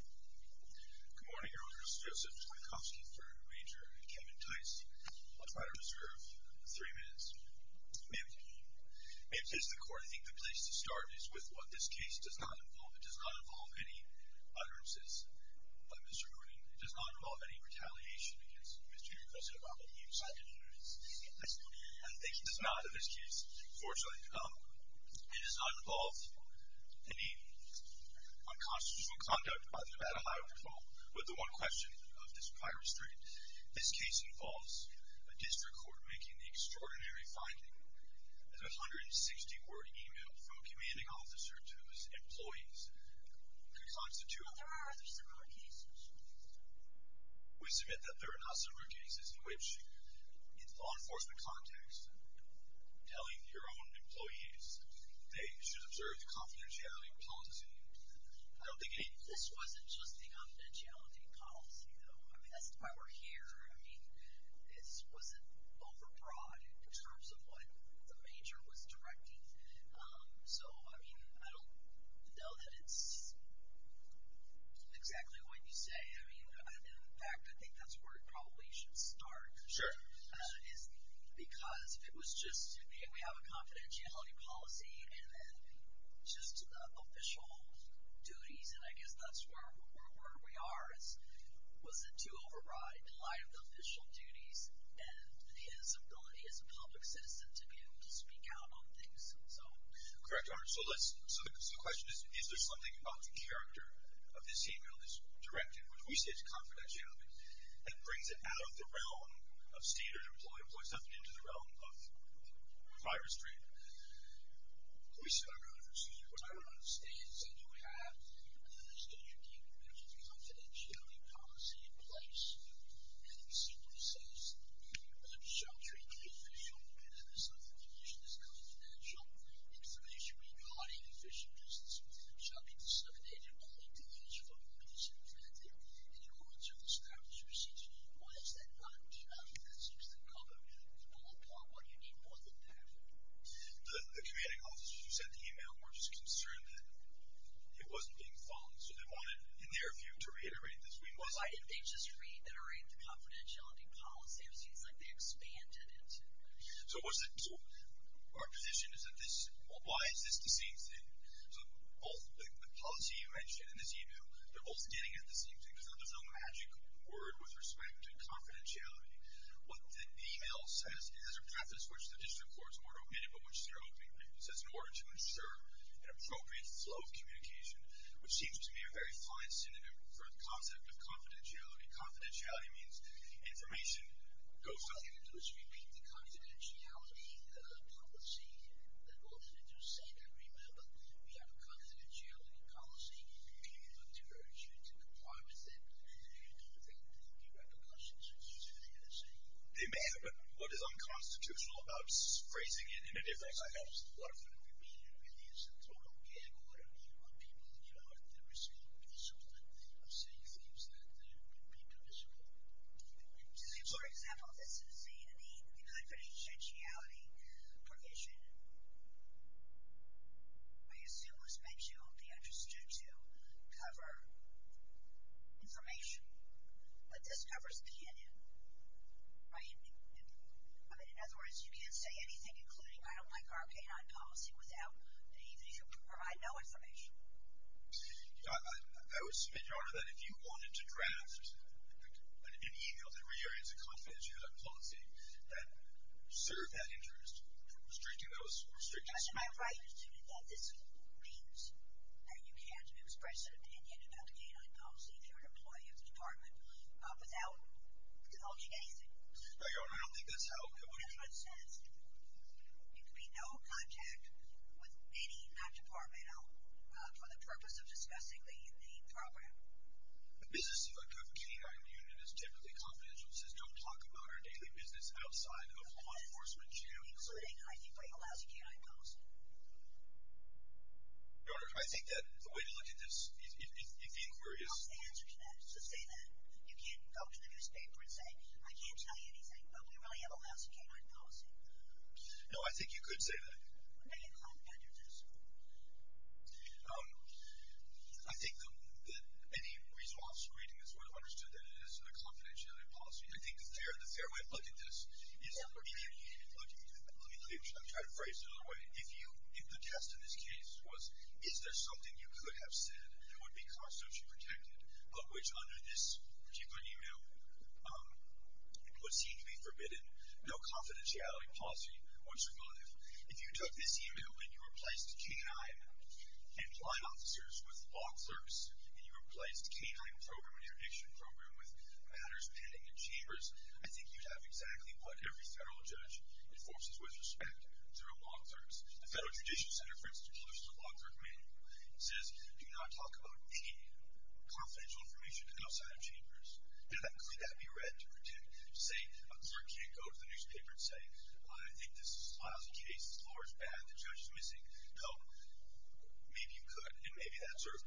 Good morning, Your Honor. This is Joseph Twankowski, 3rd Ranger, and Kevin Tice. I'll try to reserve three minutes, maybe. May it please the Court, I think the place to start is with what this case does not involve. It does not involve any utterances by Mr. Moonin. It does not involve any retaliation against Mr. and Mrs. Obama. He decided to do this. I think he does not, in this case, fortunately. It does not involve any unconstitutional conduct by the Nevada Highway Patrol with the one question of this prior restraint. This case involves a district court making the extraordinary finding that a 160-word e-mail from a commanding officer to his employees could constitute. Well, there are other similar cases. We submit that there are not similar cases in which, in the law enforcement context, telling your own employees they should observe the confidentiality policy. I don't think any— This wasn't just the confidentiality policy, though. I mean, that's why we're here. I mean, this wasn't overbroad in terms of what the major was directing. So, I mean, I don't know that it's exactly what you say. I mean, in fact, I think that's where it probably should start. Sure. Because if it was just, hey, we have a confidentiality policy, and then just the official duties, and I guess that's where we are, was it too overbroad in light of the official duties and his ability as a public citizen to be able to speak out on things? Correct, Your Honor. Which we see as confidentiality. That brings it out of the realm of standard employment. It puts nothing into the realm of driver's treatment. We sit around it. We sit around it. I don't understand. So do we have confidentiality policy in place, and it simply says that we shall treat the official and the subordination as confidential information regarding official business and shall be disseminated only to those from whom it is intended in accordance with established procedures? Why is that not enough? That seems to cover, to pull apart what you need more than that. The commanding officers who sent the email were just concerned that it wasn't being followed. So they wanted, in their view, to reiterate this. Why didn't they just reiterate the confidentiality policy? It seems like they expanded it. So our position is that this, well, why is this the same thing? So both the policy you mentioned in this email, they're both getting at the same thing. So there's no magic word with respect to confidentiality. What the email says is a preface which the district court's order omitted but which they're opening. It says, in order to ensure an appropriate flow of communication, which seems to me a very fine synonym for the concept of confidentiality. Confidentiality means information goes out. Why didn't they just repeat the confidentiality policy? Why didn't they just say that, remember, we have a confidentiality policy and we're going to diverge you to comply with it? And you don't think that the repercussions would be the same? It may happen. What is unconstitutional about phrasing it in a different way? It helps a lot of people. It really is a total gag order on people, you know, that are saying things that would be permissible. For example, this is saying that the confidentiality provision, I assume was meant to be understood to cover information, but this covers cannon, right? I mean, in other words, you can't say anything, including I don't like our canine policy, without the need to provide no information. I would submit, Your Honor, that if you wanted to draft an email that reiterates a confidentiality policy that served that interest, restricting those restrictions. But to my right, this means that you can't express an opinion about the canine policy through an employee of the department without divulging anything. No, Your Honor, I don't think that's how it could work. There could be no contact with any non-departmental for the purpose of discussing the program. The business of a good canine union is typically confidential. It says don't talk about our daily business outside of law enforcement. Including, I think, a lousy canine policy. Your Honor, I think that the way to look at this, if the inquiry is… That's the answer to that. Just say that. You can't go to the newspaper and say, I can't tell you anything, but we really have a lousy canine policy. No, I think you could say that. I didn't think I could do this. I think that any reasonable officer reading this would have understood that it is a confidentiality policy. I think the fair way to look at this is… Let me try to phrase it another way. If the test in this case was, is there something you could have said that would be constitutionally protected, but which under this particular e-mail would seem to be forbidden, no confidentiality policy would survive. If you took this e-mail and you replaced canine and blind officers with law clerks, and you replaced the canine program and interdiction program with matters pending in chambers, I think you'd have exactly what every federal judge enforces with respect, through law clerks. The Federal Judicial Center, for instance, publishes a law clerk manual. It says, do not talk about any confidential information outside of chambers. Now, could that be read to pretend? Say, a clerk can't go to the newspaper and say, I think this is a lousy case, the floor is bad, the judge is missing. No, maybe you could, and maybe that sort of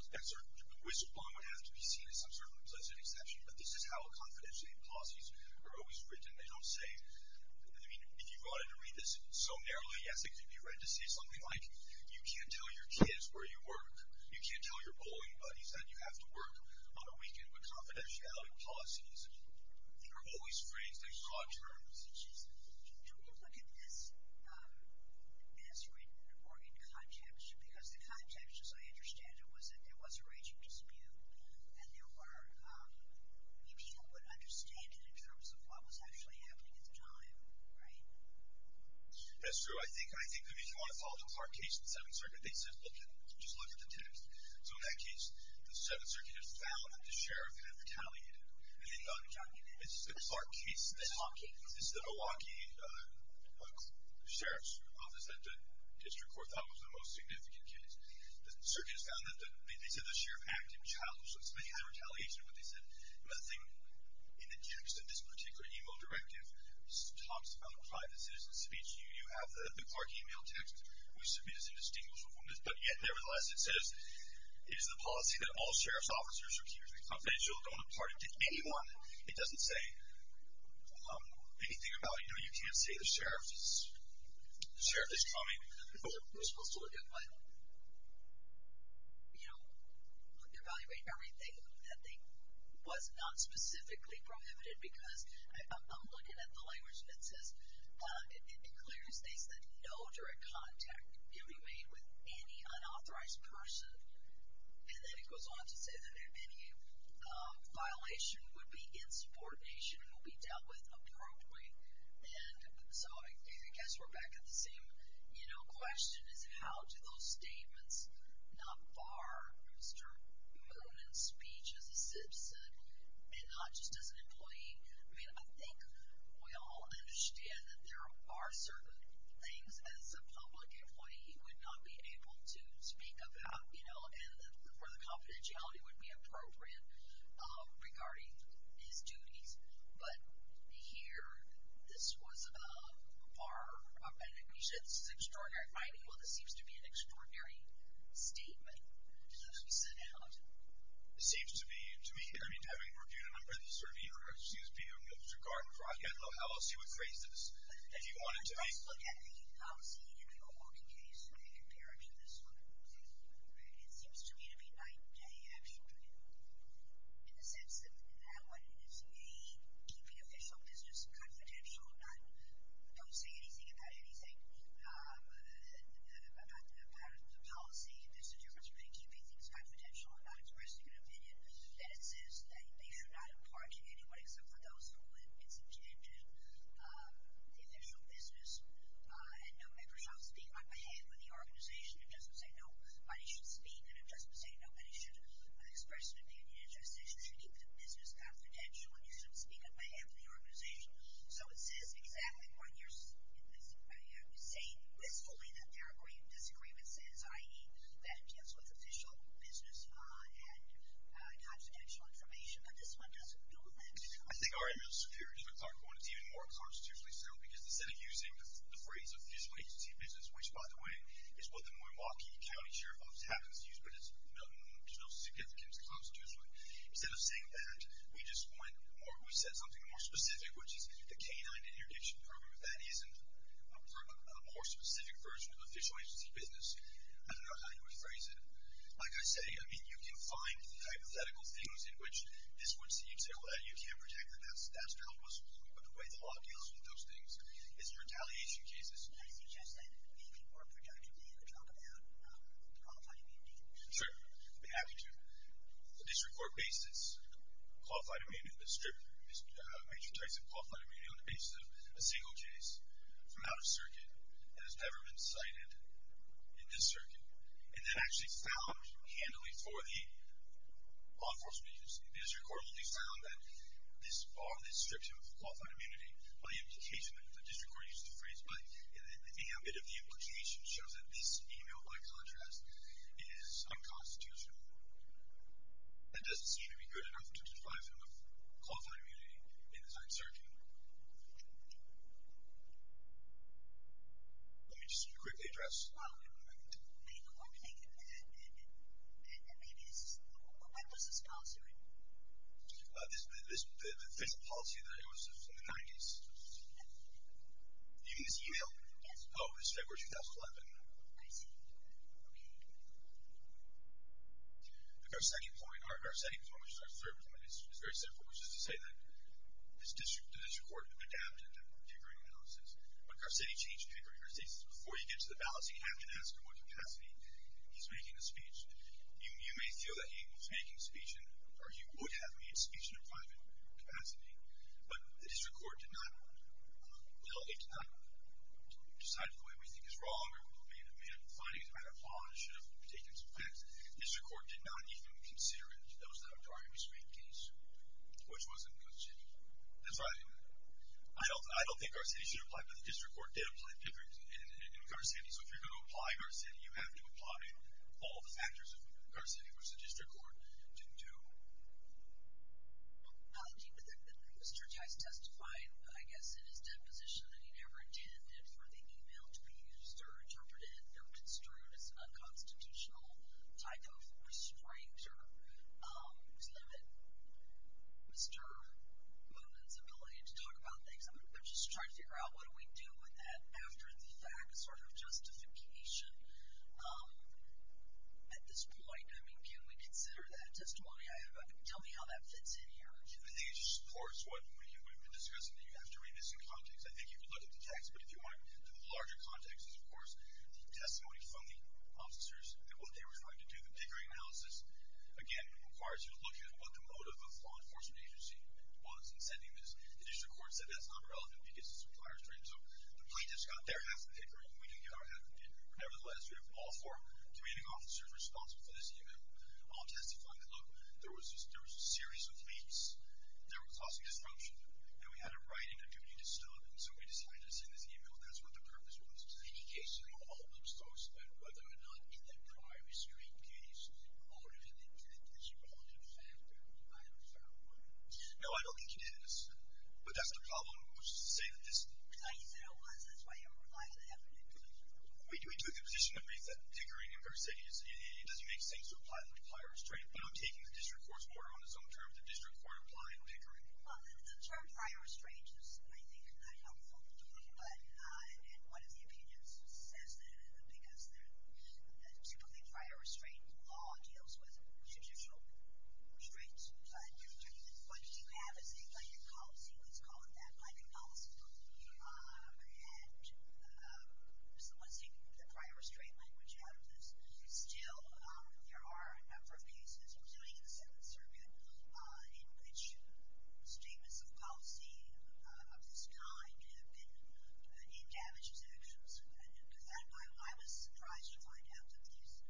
whistleblown would have to be seen as some sort of implicit exception, but this is how confidentiality policies are always written. They don't say… I mean, if you wanted to read this so narrowly, yes, it could be read to say something like, you can't tell your kids where you work, you can't tell your bowling buddies that you have to work on a weekend, but confidentiality policies are always phrased in broad terms. Don't you look at this as written or in context? Because the context, as I understand it, was that there was a raging dispute, and there were… maybe people would understand it in terms of what was actually happening at the time, right? That's true. I think if you want to follow the Clark case, the Seventh Circuit, they said just look at the text. So in that case, the Seventh Circuit has found that the sheriff had retaliated, and they thought, this is the Clark case, this is the Milwaukee Sheriff's Office that the district court thought was the most significant case. The circuit has found that… they said the sheriff acted childishly. Somebody had retaliation for what they said. Another thing, in the text of this particular email directive, it talks about private citizen speech. You have the Clark email text. We submit as indistinguishable from this. But yet, nevertheless, it says, it is the policy that all sheriff's officers are keeping confidential. Don't impart it to anyone. It doesn't say anything about, you know, you can't say the sheriff is coming. You're supposed to evaluate everything that was not specifically prohibited, because I'm looking at the language, and it says, it declares things that no direct contact can be made with any unauthorized person. And then it goes on to say that any violation would be insubordination and would be dealt with appropriately. And so I guess we're back at the same, you know, question, is how do those statements not bar Mr. Moonen's speech as a citizen, and not just as an employee? I mean, I think we all understand that there are certain things as a public employee he would not be able to speak about, you know, and where the confidentiality would be appropriate regarding his duties. But here, this was a bar. And you said this is extraordinary. I mean, well, this seems to be an extraordinary statement to sit out. It seems to be, to me, I mean, having reviewed a number of these surveys, or excuse me, Mr. Gardner, I don't know how else you would phrase this. If you want it to be. Let's look at the policy in the O'Rourke case and compare it to this one. It seems to me to be night and day, actually, in the sense that that one is a keeping official business confidential, not don't say anything about anything about the policy. There's a difference between keeping things confidential and not expressing an opinion. And it says that they should not impart to anyone except for those who it's intended the official business. And no, everybody should speak on behalf of the organization. It doesn't say nobody should speak. And it doesn't say nobody should express an opinion. It just says you should keep the business confidential and you should speak on behalf of the organization. So it says exactly what you're saying wistfully that there are great disagreements, i.e., that it deals with official business and confidential information. But this one doesn't do that. I think our email superior to the Clark one is even more constitutionally sound because instead of using the phrase official agency business, which, by the way, is what the Milwaukee County Sheriff's Office happens to use, but there's no significance to constitutionally. Instead of saying that, we just went more, we said something more specific, which is the canine interdiction program. If that isn't a more specific version of official agency business, I don't know how you would phrase it. Like I say, I mean, you can find hypothetical things in which this would seem to say, well, you can't protect that. That's the helpless rule. But the way the law deals with those things is retaliation cases. I suggest that even more productively, you could talk about qualified immunity. Sure. I'd be happy to. The district court based its qualified immunity, major types of qualified immunity on the basis of a single case from out of circuit that has never been cited in this circuit, and then actually found handily for the law enforcement agency. The district court only found that this bar, this description of qualified immunity, by implication, the district court used the phrase by ambit of the implication, shows that this email, by contrast, is unconstitutional. That doesn't seem to be good enough to define qualified immunity in the 9th Circuit. Let me just quickly address. Wow. When was this policy written? This policy that was in the 90s. You mean this email? Yes. Oh, it's February 2011. I see. Okay. The Garcetti point, which is our third point, is very simple, which is to say that the district court adapted the Pickering analysis. When Garcetti changed Pickering, Garcetti says before you get to the ballot, you have to ask in what capacity he's making the speech. You may feel that he was making speech, or he would have made speech in a private capacity, but the district court did not, well, it did not decide it the way we think is wrong, or finding it by default should have taken some facts. The district court did not even consider it. That was the Targaryen restraint case, which wasn't considered. That's right. I don't think Garcetti should apply, but the district court did apply Pickering in Garcetti, so if you're going to apply Garcetti, you have to apply all the factors of Garcetti, which the district court didn't do. Mr. Jice testified, I guess, in his deposition that he never intended for the email to be used or interpreted or construed as an unconstitutional type of restraint or to limit Mr. Moonen's ability to talk about things. I'm just trying to figure out what do we do with that after the fact sort of justification at this point. I mean, can we consider that testimony? Tell me how that fits in here. I think it just supports what we've been discussing, that you have to read this in context. I think you can look at the text, but if you want to look at the larger context, it's, of course, the testimony from the officers and what they were trying to do. The Pickering analysis, again, requires you to look at what the motive of the law enforcement agency was in sending this. The district court said that's not relevant because it's a prior restraint, so the plaintiffs got their half of Pickering and we didn't get our half of Pickering. Nevertheless, we have all four community officers responsible for this email all testifying that, look, there was a series of leaks that were causing disruption, and we had a right and a duty to stop, and so we decided to send this email. That's what the purpose was. In any case, it all looks close to that. Whether or not in the prior restraint case, motive and intent is one factor. I have a fair word. No, I don't think it is, but that's the problem, which is to say that this... No, you said it was. That's why you were relying on the evidence. We do take the position that Pickering and Bersage, it doesn't make sense to apply the prior restraint, but I'm taking the district court's word on its own term that the district court applied Pickering. Well, the term prior restraint is, I think, not helpful, and one of the opinions says that because typically prior restraint law deals with judicial traits, but you have a state planning policy, let's call it that, planning policy, and someone's taking the prior restraint language out of this. Still, there are a number of cases, including in the Senate circuit, in which statements of policy of this kind have been in damages actions, and I was surprised to find out that these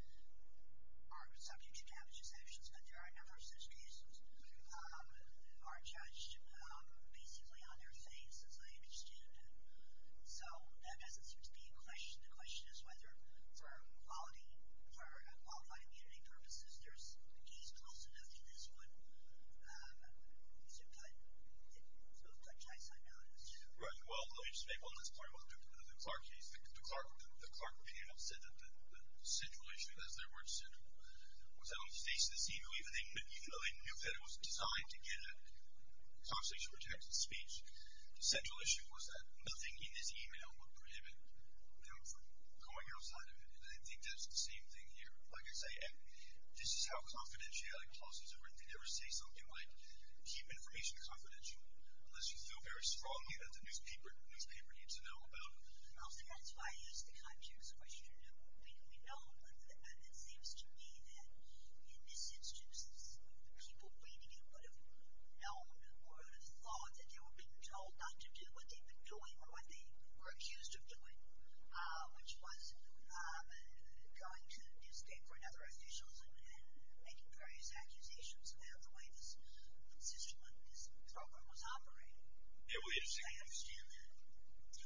are subject to damages actions, but there are a number of such cases that are judged basically on their face, as I understand. So that doesn't seem to be a question. The question is whether for qualified immunity purposes there's a case close enough to this one to cut chastity notice. Right. Well, let me just make one last point about the Clark case. The Clark opinion said that the central issue, as their words said, was that on the face of this email, even though they knew that it was designed to get a constitutional protected speech, the central issue was that nothing in this email would prohibit them from going outside of it, and they think that's the same thing here. Like I say, this is how confidentiality clauses are written. They never say something like keep information confidential unless you feel very strongly that the newspaper needs to know about it. Also, that's why I used the context question. We know, and it seems to me that in this instance, people reading it would have known or would have thought that they were being told not to do what they've been doing or what they were accused of doing, which was going to newspaper and other officials and making various accusations about the way this program was operating. What's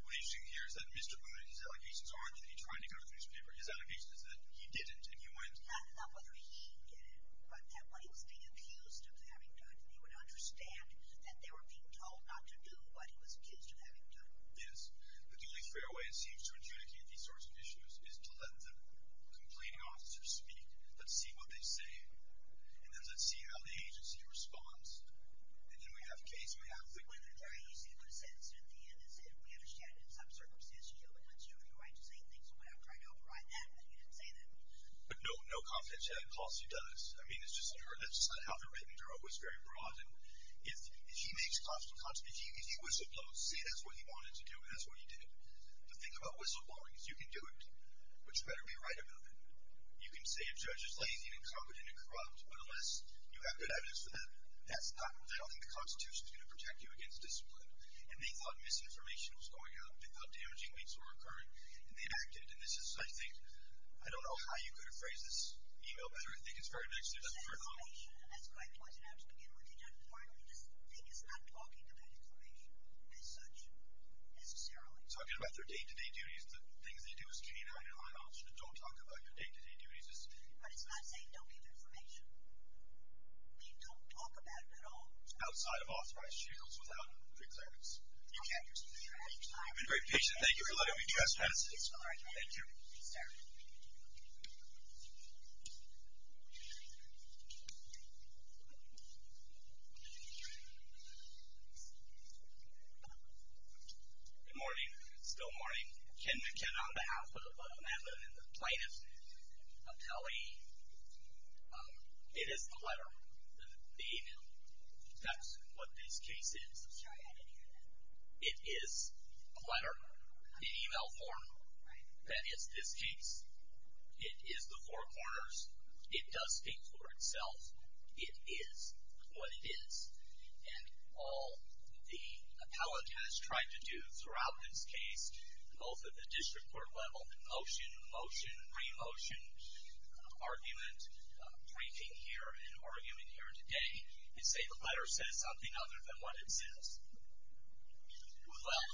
interesting here is that Mr. Boone, his allegations aren't that he tried to go to the newspaper. His allegation is that he didn't and he went. Not whether he did it, but that when he was being accused of having done it, he would understand that they were being told not to do what he was accused of having done. Yes. The only fair way, it seems, to adjudicate these sorts of issues is to let the complaining officers speak. Let's see what they say, and then let's see how the agency responds. And then we have a case, we have a witness. It's very easy to put a sentence at the end and say, we understand in some circumstances you have a constitutional right to say things the way I've tried to override that, but you didn't say that. No, no confidentiality clause he does. I mean, that's just not how they're written. They're always very broad. If he was supposed to say that's what he wanted to say, that's what he wanted to do, and that's what he did. The thing about whistleblowing is you can do it, but you better be right about it. You can say a judge is lazy and incompetent and corrupt, but unless you have good evidence for that, I don't think the Constitution is going to protect you against discipline. And they thought misinformation was going on. They thought damaging links were occurring, and they acted. And this is, I think, I don't know how you could have phrased this email better. I think it's very nice. That's great points, and I have to begin with. I think it's not talking about information as such necessarily. It's talking about their day-to-day duties, the things they do as canine and high officer. Don't talk about your day-to-day duties. But it's not saying don't give information. I mean, don't talk about it at all. Outside of authorized shields without pre-clearance. Okay. You've been very patient. Thank you for letting me address this. It's all right. Thank you. You can start. Good morning. Still morning. Ken McKenna on behalf of Madeline and the plaintiffs. I'll tell you, it is a letter, the email. That's what this case is. It is a letter, an email form. That is this case. It is the Four Corners. It does speak for itself. It is what it is. And all the appellate has tried to do throughout this case, both at the district court level, motion, motion, re-motion, argument, briefing here and arguing here today, is say the letter says something other than what it says. Well,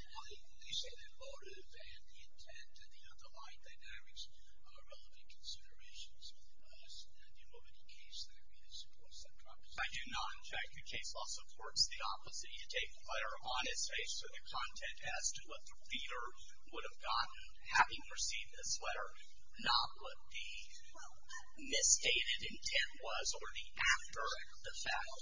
you say the motive and the intent and the underlying dynamics are relevant considerations. At the moment, the case law really supports that proposition. I do not object. The case law supports the opposite. You take the letter on its face, so the content as to what the reader would have gotten having received this letter, not what the misstated intent was, or the after the fact.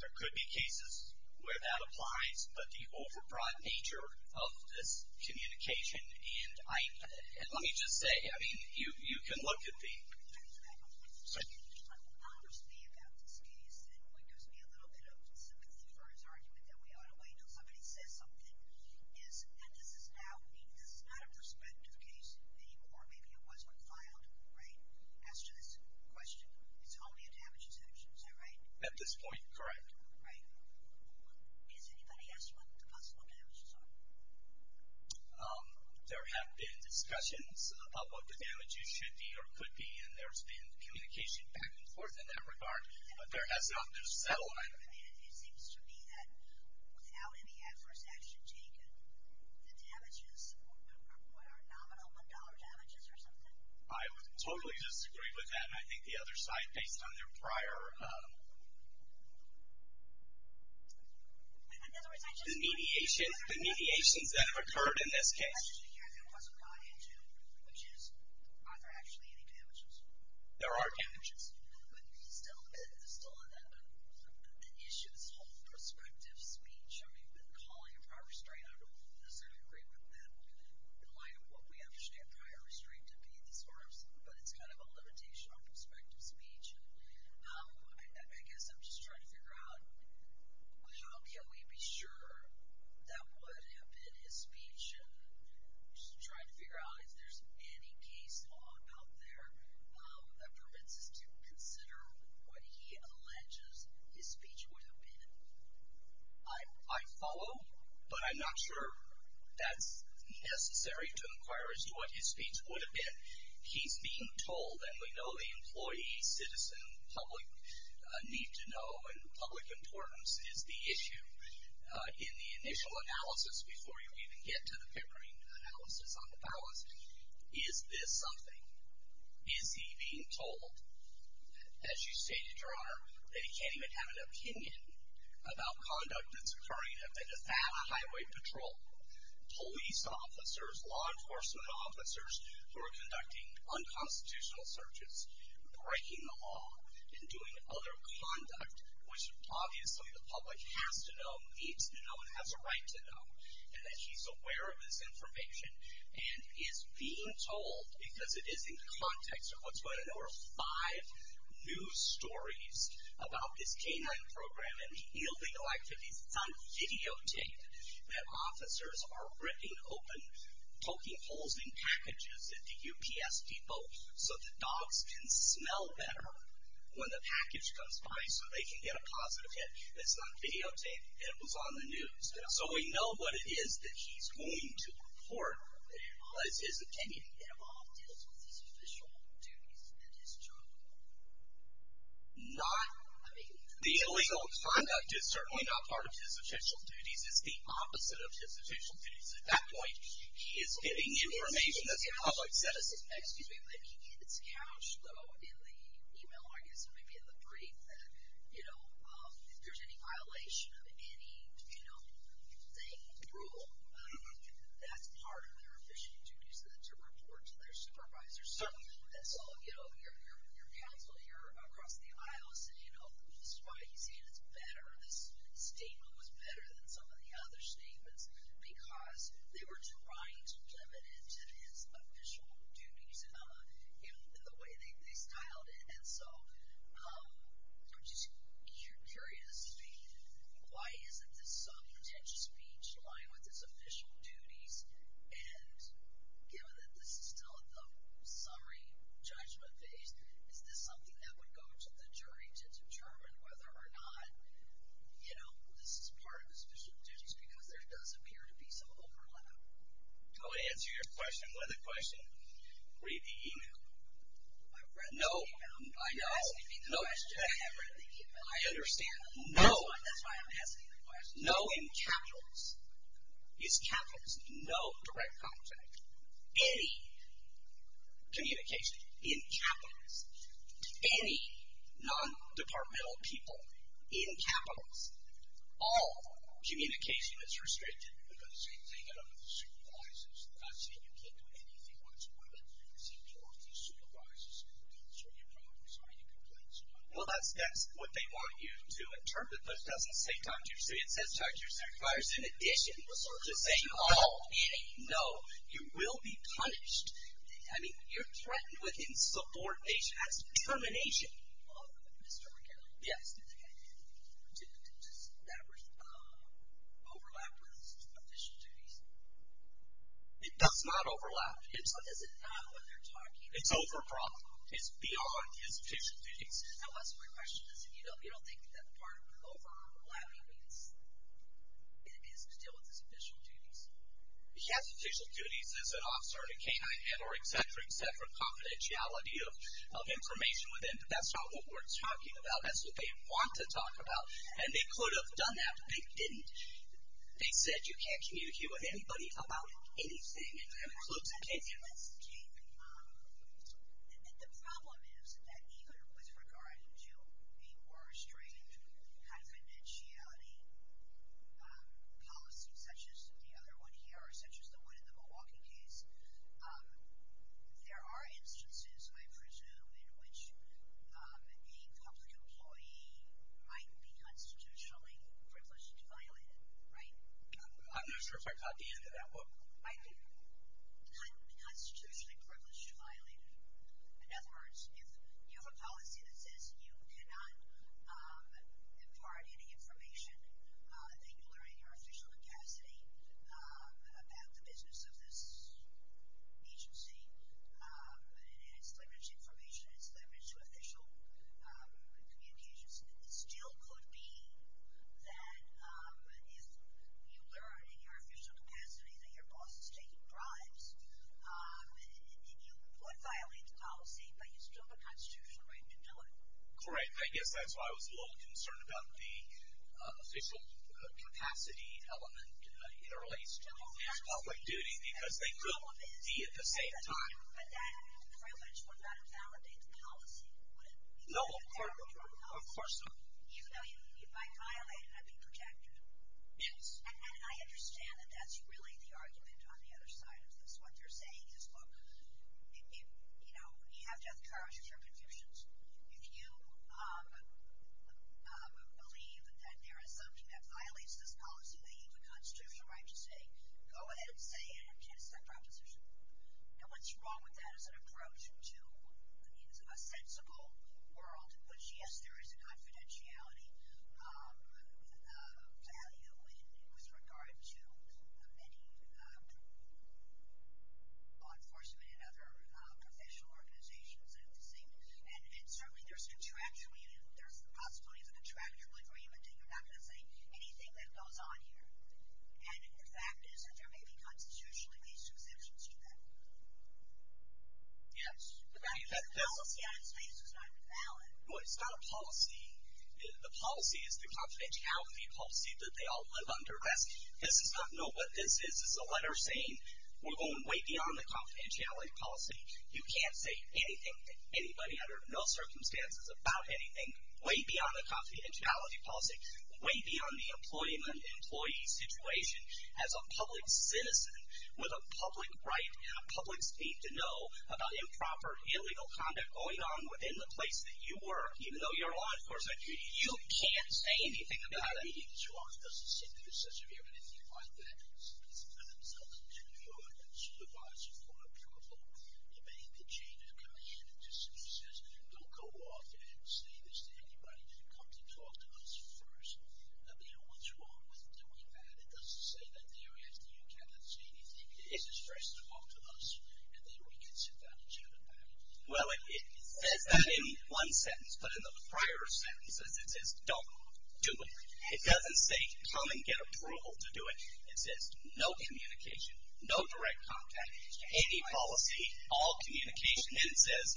There could be cases where that applies, but the over-broad nature of this communication, and let me just say, I mean, you can look at the. I'm just curious about this case. It gives me a little bit of sympathy for his argument that we ought to wait until somebody says something. Is that this is now, this is not a prospective case anymore. Maybe it was when filed, right? As to this question, it's only a damage exception, is that right? At this point, correct. Right. Has anybody asked what the possible damages are? There have been discussions about what the damages should be or could be, and there's been communication back and forth in that regard, but there has not been a settlement. It seems to me that without any adverse action taken, the damages are nominal, $1 damages or something. I would totally disagree with that, and I think the other side, based on their prior, the mediations that have occurred in this case. There are damages. I guess I'm just trying to figure out, how can we be sure that would have been his speech? I'm just trying to figure out if there's any case law out there that permits us to consider what he alleges his speech would have been. I follow, but I'm not sure that's necessary to inquire as to what his speech would have been. He's being told, and we know the employee, citizen, public need to know, and public importance is the issue in the initial analysis, before you even get to the paper analysis on the balance. Is this something? Is he being told, as you stated, Your Honor, that he can't even have an opinion about conduct that's occurring, and if that highway patrol, police officers, law enforcement officers who are conducting unconstitutional searches, breaking the law, and doing other conduct, which obviously the public has to know, needs to know, and has a right to know, and that he's aware of this information, and is being told, because it is in context of what's going on, over five news stories about this K-9 program and illegal activities. It's on videotape, that officers are ripping open, poking holes in packages at the UPS Depot, so the dogs can smell better when the package comes by, so they can get a positive hit. It's on videotape, and it was on the news. So we know what it is that he's going to report as his opinion. It all deals with his official duties and his job. Not, I mean, the illegal conduct is certainly not part of his official duties. It's the opposite of his official duties. At that point, he is getting information that the public sent us. Excuse me. But it's couched, though, in the email, I guess, or maybe in the brief that, you know, if there's any violation of any, you know, thing, rule, that's part of their official duties to report to their supervisor. So, you know, your counsel here across the aisle is saying, oh, this is why he's saying it's better. This statement was better than some of the other statements because they were trying to limit it to his official duties in the way they styled it. And so I'm just curious, why is it that some potential speech lying with his official duties and given that this is still at the summary judgment phase, is this something that would go to the jury to determine whether or not, you know, this is part of his official duties because there does appear to be some overlap? Do you want me to answer your question with a question? Read the email. I've read the email. I know. You're asking me the question. I have read the email. I understand. No. That's why I'm asking the question. No in capitalists. It's capitalists. No direct contact. Any communication in capitalists. Any non-departmental people in capitalists. All communication that's restricted. The same thing with supervisors. They're not saying you can't do anything whatsoever. They're saying, well, if the supervisor's concerned, you're probably sorry. You can blame somebody. Well, that's what they want you to interpret. But it doesn't say time to your city. It says time to your city. It's in addition to saying all. No. You will be punished. I mean, you're threatened with insubordination. That's termination. Mr. McGarrett. Yes. Does that overlap with official duties? It does not overlap. Is it not what they're talking about? It's overprop. It's beyond his official duties. So my question is, you don't think that part of overlapping is to deal with his official duties? He has official duties as an officer and a canine, or et cetera, et cetera, confidentiality of information within. That's not what we're talking about. That's what they want to talk about. And they could have done that, but they didn't. They said you can't communicate with anybody about anything. And that includes a canine. The problem is that even with regard to a more restrained confidentiality policy, such as the other one here or such as the one in the Milwaukee case, there are instances, I presume, in which a public employee might be constitutionally privileged to violate it, right? I'm not sure if I caught the end of that. Michael? Constitutionally privileged to violate it. In other words, if you have a policy that says you cannot impart any information, that you learn in your official capacity about the business of this agency, and it's leveraged information, it's leveraged to official communications, it still could be that if you learn in your official capacity that your boss is taking bribes, you could violate the policy, but you still have a constitutional right to do it. Correct. I guess that's why I was a little concerned about the official capacity element in relation to public duty, because they could be at the same time. But that privilege would not invalidate the policy, would it? No, of course not. Even though if I violate it, I'd be protected. Yes. And I understand that that's really the argument on the other side of this. What they're saying is, look, you know, you have to have the courage to share convictions. If you believe that there is something that violates this policy, that you have a constitutional right to say, go ahead and say it. It's that proposition. Now, what's wrong with that as an approach to a sensible world, which, yes, there is a confidentiality value with regard to many law enforcement and other professional organizations and the same, and certainly there's the possibility of a contractual agreement that you're not going to say anything that goes on here. And the fact is that there may be constitutionally based exemptions to that. Yes. The policy on its face is not valid. Well, it's not a policy. The policy is the confidentiality policy that they all live under. This is not what this is. This is a letter saying we're going way beyond the confidentiality policy. You can't say anything to anybody under no circumstances about anything way beyond the confidentiality policy, way beyond the employee situation as a public citizen with a public right and a public's need to know about improper illegal conduct going on within the place that you work, even though you're a law enforcer. You can't say anything about it. Well, it says that in one sentence, but in the prior sentence it says don't do it. It doesn't say come and get approval to do it. It says no communication, no direct contact, any policy, all communication, and it says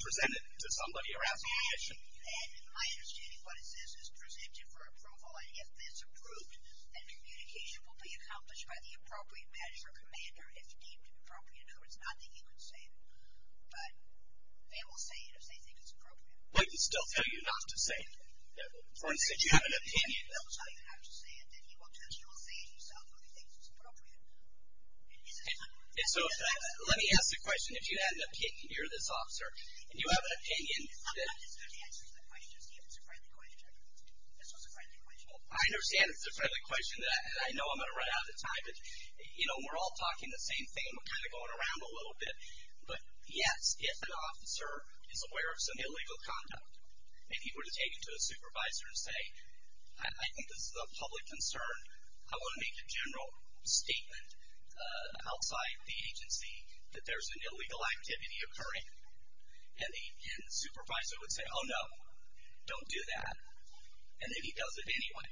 present it to somebody or ask permission. And my understanding of what it says is present it for approval, and if it's approved, then communication will be accomplished by the appropriate manager or commander if deemed appropriate. In other words, not that you can say it, but they will say it if they think it's appropriate. We can still tell you not to say it. For instance, you have an opinion. So let me ask the question. If you had an opinion, you're this officer, and you have an opinion. I understand it's a friendly question, and I know I'm going to run out of time, but, you know, we're all talking the same thing. We're kind of going around a little bit. But yes, if an officer is aware of some illegal conduct, if he were to take it to a supervisor and say, I think this is a public concern, I want to make a general statement outside the agency that there's an illegal activity occurring, and the supervisor would say, oh, no, don't do that, and then he does it anyway.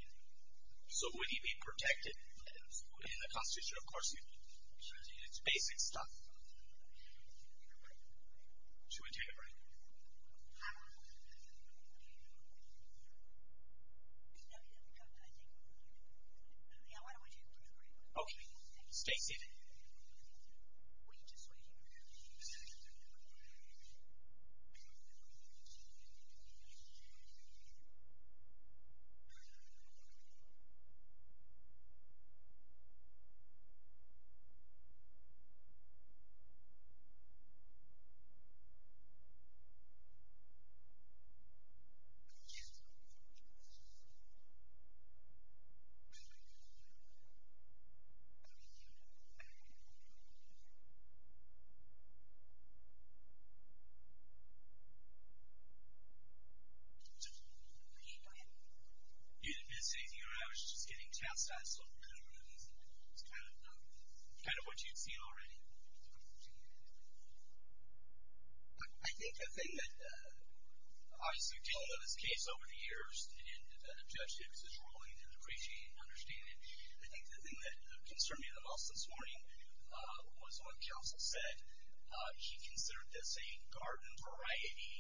So would he be protected in the Constitution? Of course, it's basic stuff. Should we take a break? Okay. Okay, stay seated. Yes. Go ahead. You didn't miss anything, or I was just getting tests. I just thought it was kind of what you'd see already. I think the thing that, obviously, we've been dealing with this case over the years, and the judge has his ruling, and I appreciate and understand it. I think the thing that concerned me the most this morning was what Counsel said. He considered this a garden variety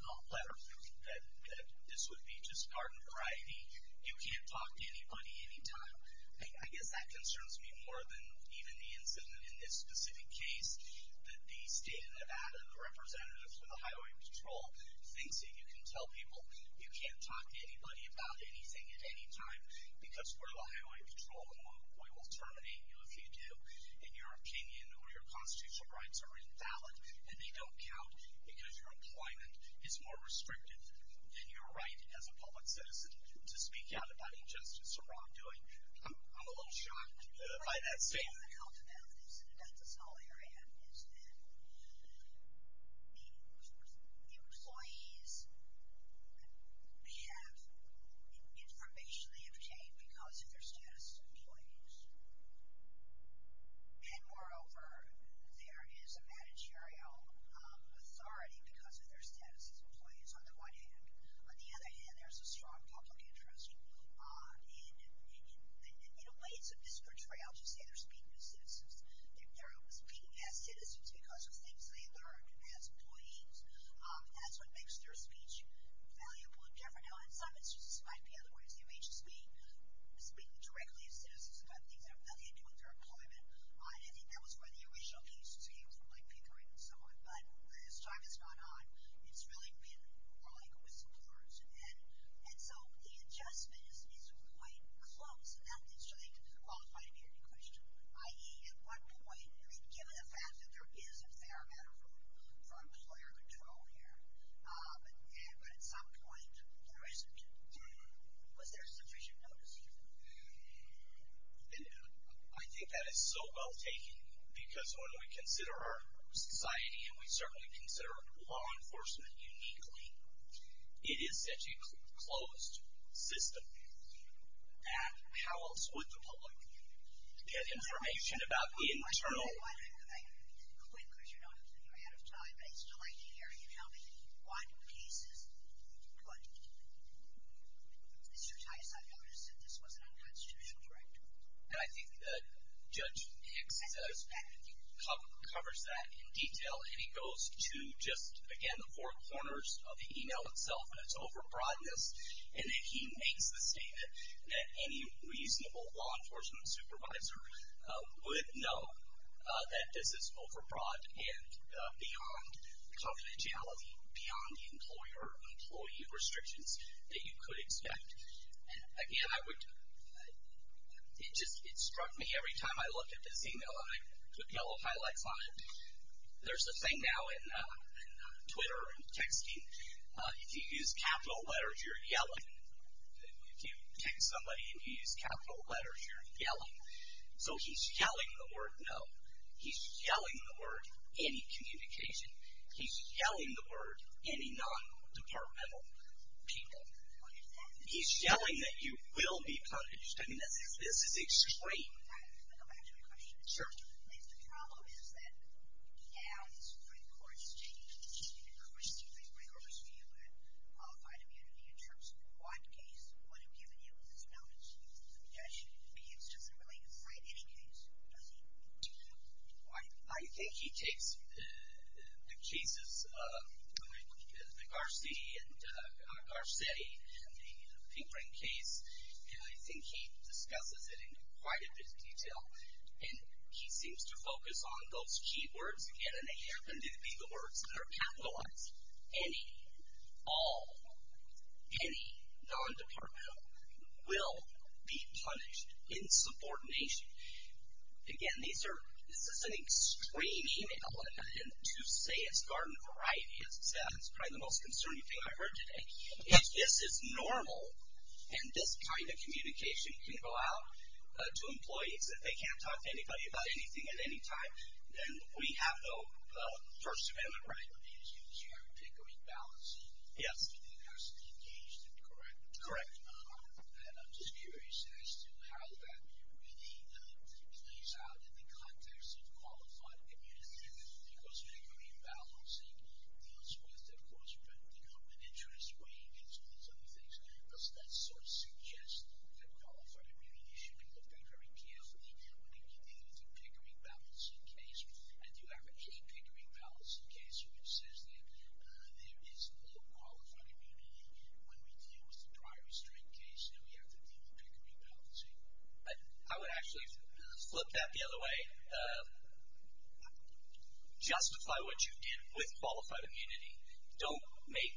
letter, that this would be just garden variety. You can't talk to anybody any time. I guess that concerns me more than even the incident in this specific case that the state of Nevada, the representatives for the Highway Patrol, thinks that you can tell people you can't talk to anybody about anything at any time because we're the Highway Patrol, and we will terminate you if you do, and your opinion or your constitutional rights are invalid, and they don't count because your employment is more restrictive than your right as a public citizen to speak out about injustice or wrongdoing. I'm a little shocked by that statement. One of the health advantages in a dental cell area is that employees have information they obtain because of their status as employees. And, moreover, there is a managerial authority because of their status as employees, on the one hand. On the other hand, there's a strong public interest. In a way, it's a misportrayal to say they're speaking as citizens. They're speaking as citizens because of things they learned as employees. That's what makes their speech valuable and different. Now, in some instances, it might be otherwise. They may just be speaking directly as citizens about things that have nothing to do with their employment. I think that was where the original cases came from, like Pickering and so on. But, as time has gone on, it's really been more like whistleblowers. And so, the adjustment is quite close. And that is truly qualified to be a good question. I.e., at what point, I mean, given the fact that there is a fair amount of room for employer control here, but at some point there isn't, was there sufficient notice here? And I think that is so well taken, because when we consider our society, and we certainly consider law enforcement uniquely, it is such a closed system. And how else would the public get information about the internal? I quit, because you're out of time. I still like to hear you tell me what cases, but Mr. Tice, I noticed that this was an unconstitutional right. I think that Judge Hicks covers that in detail, and he goes to just, again, the four corners of the email itself, and it's over-broadness. And then he makes the statement that any reasonable law enforcement supervisor would know that this is over-broad and beyond confidentiality, beyond the employer-employee restrictions that you could expect. And, again, I would, it just, it struck me every time I looked at this email, and I put yellow highlights on it, there's a thing now in Twitter and texting, if you use capital letters, you're yelling. If you text somebody and you use capital letters, you're yelling. So he's yelling the word, no. He's yelling the word, any communication. He's yelling the word, any non-departmental people. He's yelling that you will be punished. I mean, this is extreme. Go back to my question. Sure. If the problem is that now this Supreme Court is taking an increasingly rigorous view of qualified immunity in terms of what case would have given you this balance, the judge, Judge Hicks, doesn't really cite any case, does he? Why? I think he takes the cases, the Garcetti and the Pinkring case, and I think he discusses it in quite a bit of detail. And he seems to focus on those key words, again, and they happen to be the words that are capitalized. Any, all, any non-departmental will be punished in subordination. Again, these are, this is an extreme email. And to say it's garden variety, as it says, is probably the most concerning thing I've heard today. If this is normal, and this kind of communication can go out to employees, if they can't talk to anybody about anything at any time, then we have no first amendment right. You have Pinkering balancing. Yes. It has to be engaged and correct. Correct. And I'm just curious as to how that really plays out in the context of qualified immunity. Because Pinkering balancing deals with, of course, the government interest, way against all these other things. Does that sort of suggest that qualified immunity should be looked at very carefully when we deal with the Pinkering balancing case? And do you have any Pinkering balancing case which says that there is no qualified immunity when we deal with the prior restraint case and we have to deal with Pinkering balancing? I would actually flip that the other way. Justify what you did with qualified immunity. Don't make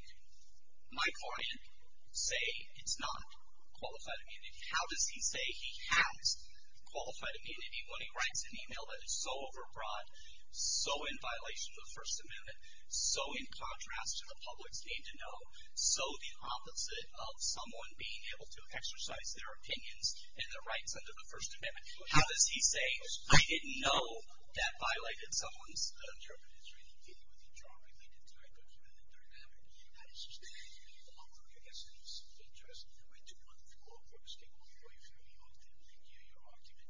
my client say it's not qualified immunity. How does he say he has qualified immunity when he writes an email that is so overbroad, so in violation of the first amendment, so in contrast to the public's need to know, so the opposite of someone being able to exercise their opinions and their rights under the first amendment. How does he say, I didn't know that violated someone's interpretive training dealing with a drug-related type of humanitarian matter. That is just not in any law work. I guess it is in the interest of my two wonderful law folks to go through and give you your argument.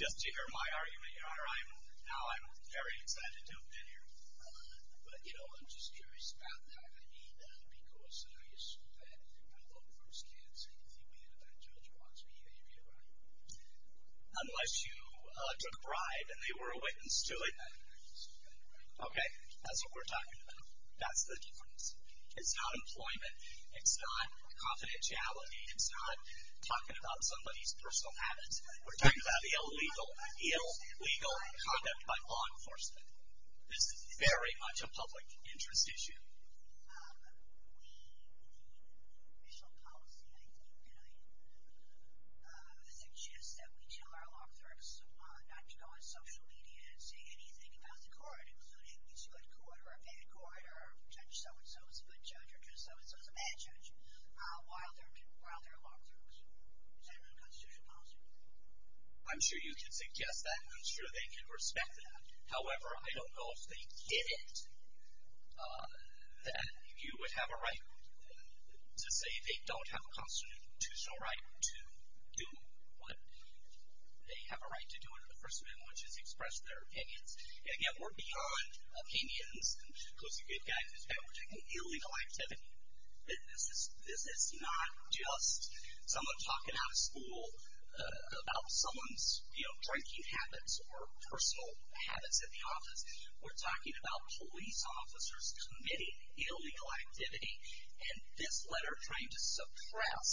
Just to hear my argument, Your Honor, now I'm very excited to have been here. But, you know, I'm just curious about that. Unless you took a bribe and they were a witness to it. Okay, that's what we're talking about. That's the difference. It's not employment. It's not confidentiality. It's not talking about somebody's personal habits. We're talking about the illegal conduct by law enforcement. This is very much a public interest issue. I'm sure you can suggest that. I'm sure they can respect that. However, I don't know if they get it. That you would have a right to say they don't have a constitutional right to do what they have a right to do under the first amendment, which is express their opinions. And, again, we're beyond opinions. Those are good guys. We're talking illegal activity. We're talking about personal habits at the office. We're talking about police officers committing illegal activity. And this letter trying to suppress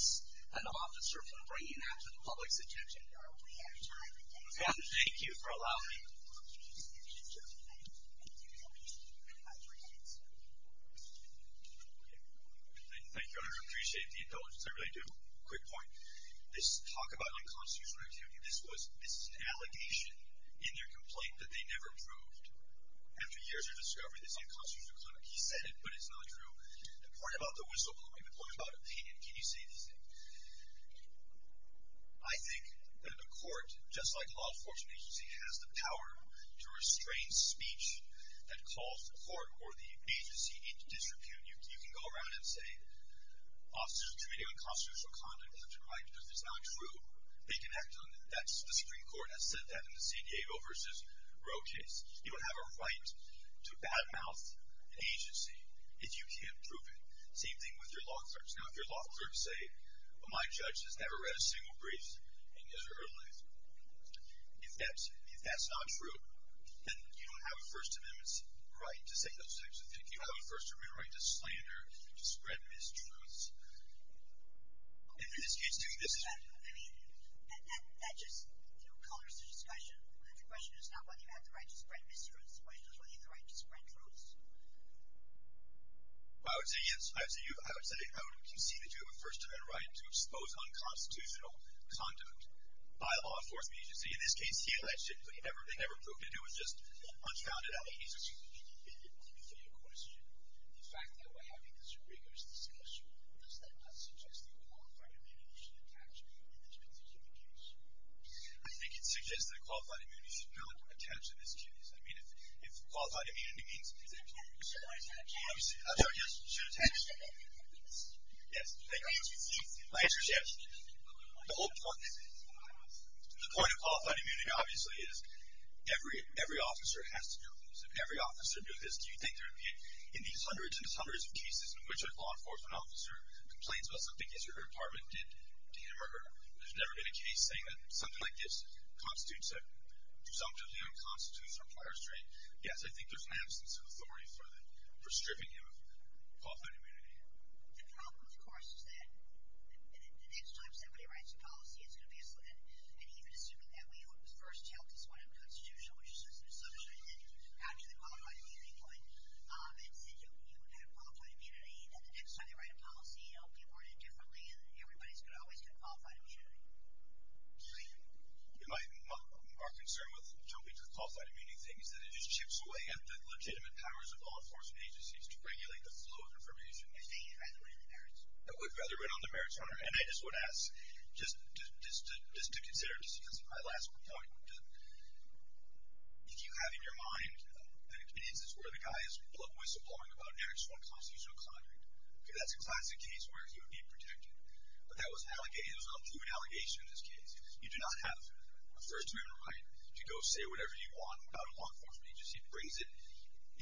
an officer from bringing that to the public's attention. Thank you for allowing me. Thank you, Your Honor. I appreciate the indulgence. I really do. Quick point. This talk about unconstitutional activity. This is an allegation in their complaint that they never proved. After years of discovery, it's unconstitutional conduct. He said it, but it's not true. The point about the whistleblowing. The point about opinion. Can you say the same? I think that a court, just like a law enforcement agency, has the power to restrain speech that calls the court or the agency into disrepute. You can go around and say, officers committing unconstitutional conduct have the right to do it. It's not true. They can act on it. The Supreme Court has said that in the San Diego versus Roe case. You don't have a right to badmouth an agency if you can't prove it. Same thing with your law clerks. Now, if your law clerks say, well, my judge has never read a single brief in his or her life, if that's not true, then you don't have a First Amendment right to say those things. You have a First Amendment right to slander, to spread mistruths. I mean, that just colors the discussion. The question is not whether you have the right to spread mistruths. The question is whether you have the right to spread truths. I would say yes. I would say I would concede that you have a First Amendment right to expose unconstitutional conduct by a law enforcement agency. In this case, he alleged it, but he never proved it. It was just unfounded allegations. Excuse me. I didn't hear your question. The fact that we're having this rigorous discussion does that not suggest that qualified immunity should attach to this particular case? I think it suggests that qualified immunity should not attach to this case. I mean, if qualified immunity means that you should attach to it, I'm sorry, yes, you should attach to it. Yes. Thank you. My answer is yes. The whole point of qualified immunity, obviously, is every officer has to do this. If every officer does this, do you think there would be, in these hundreds and hundreds of cases in which a law enforcement officer complains about something his or her department did to him or there's never been a case saying that something like this constitutes a presumptively unconstitutional prior state, yes, I think there's an absence of authority for stripping him of qualified immunity. The problem, of course, is that the next time somebody writes a policy, it's going to be a slip-in, and even assuming that we first held this one unconstitutional, which is just an assumption, and then after the qualified immunity point and said you have qualified immunity, then the next time they write a policy it'll be reported differently and everybody's going to always get qualified immunity. Julian. Our concern with jumping to the qualified immunity thing is that it just chips away at the legitimate powers of law enforcement agencies to regulate the flow of information. I think you'd rather run on the merits. I would rather run on the merits, Hunter, and I just would ask just to consider, just because of my last point, if you have in your mind an experience where the guy is blub-whistle-blowing about an actual unconstitutional conduct, that's a classic case where he would be protected, but that was an allegation, it was a complete allegation in this case. You do not have a First Amendment right to go say whatever you want about a law enforcement agency. It brings it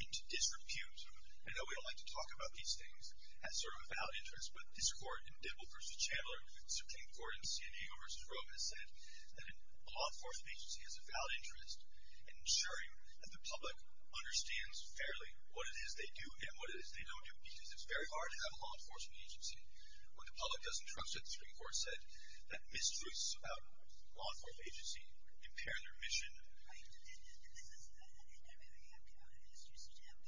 into disrepute. I know we don't like to talk about these things as sort of a valid interest, but this Court in Dibble v. Chandler, Supreme Court in San Diego v. Rome has said that a law enforcement agency has a valid interest in ensuring that the public understands fairly what it is they do and what it is they don't do, because it's very hard to have a law enforcement agency when the public doesn't trust it. The Supreme Court said that mistruths about a law enforcement agency impair their mission. Right. And this is, and maybe I'm misusing it,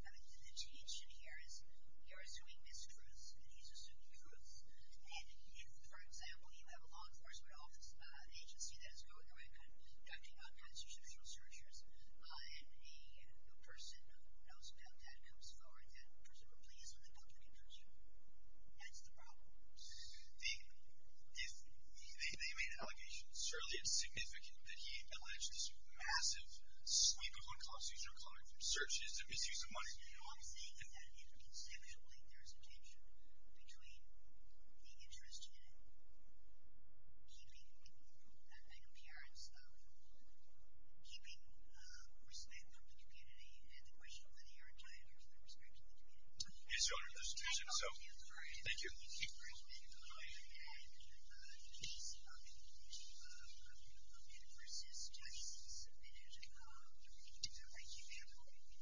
but the tension here is you're assuming mistruths, and he's assuming truths, and if, for example, you have a law enforcement agency that is going around conducting non-constitutional searches, and a person who knows about that comes forward, that person would please with the public interest. That's the problem. They made an allegation. Certainly it's significant that he alleged this massive sweep of unconstitutional comment from searches and misuse of money. No, I'm saying that inconceivably there's a tension between the interest in keeping, an appearance of keeping respect of the community and the question of whether you're entitled to respect of the community. Yes, Your Honor. There's a tension, so. Thank you. There's been a comment made that he's not been able to resist submitting a written comment.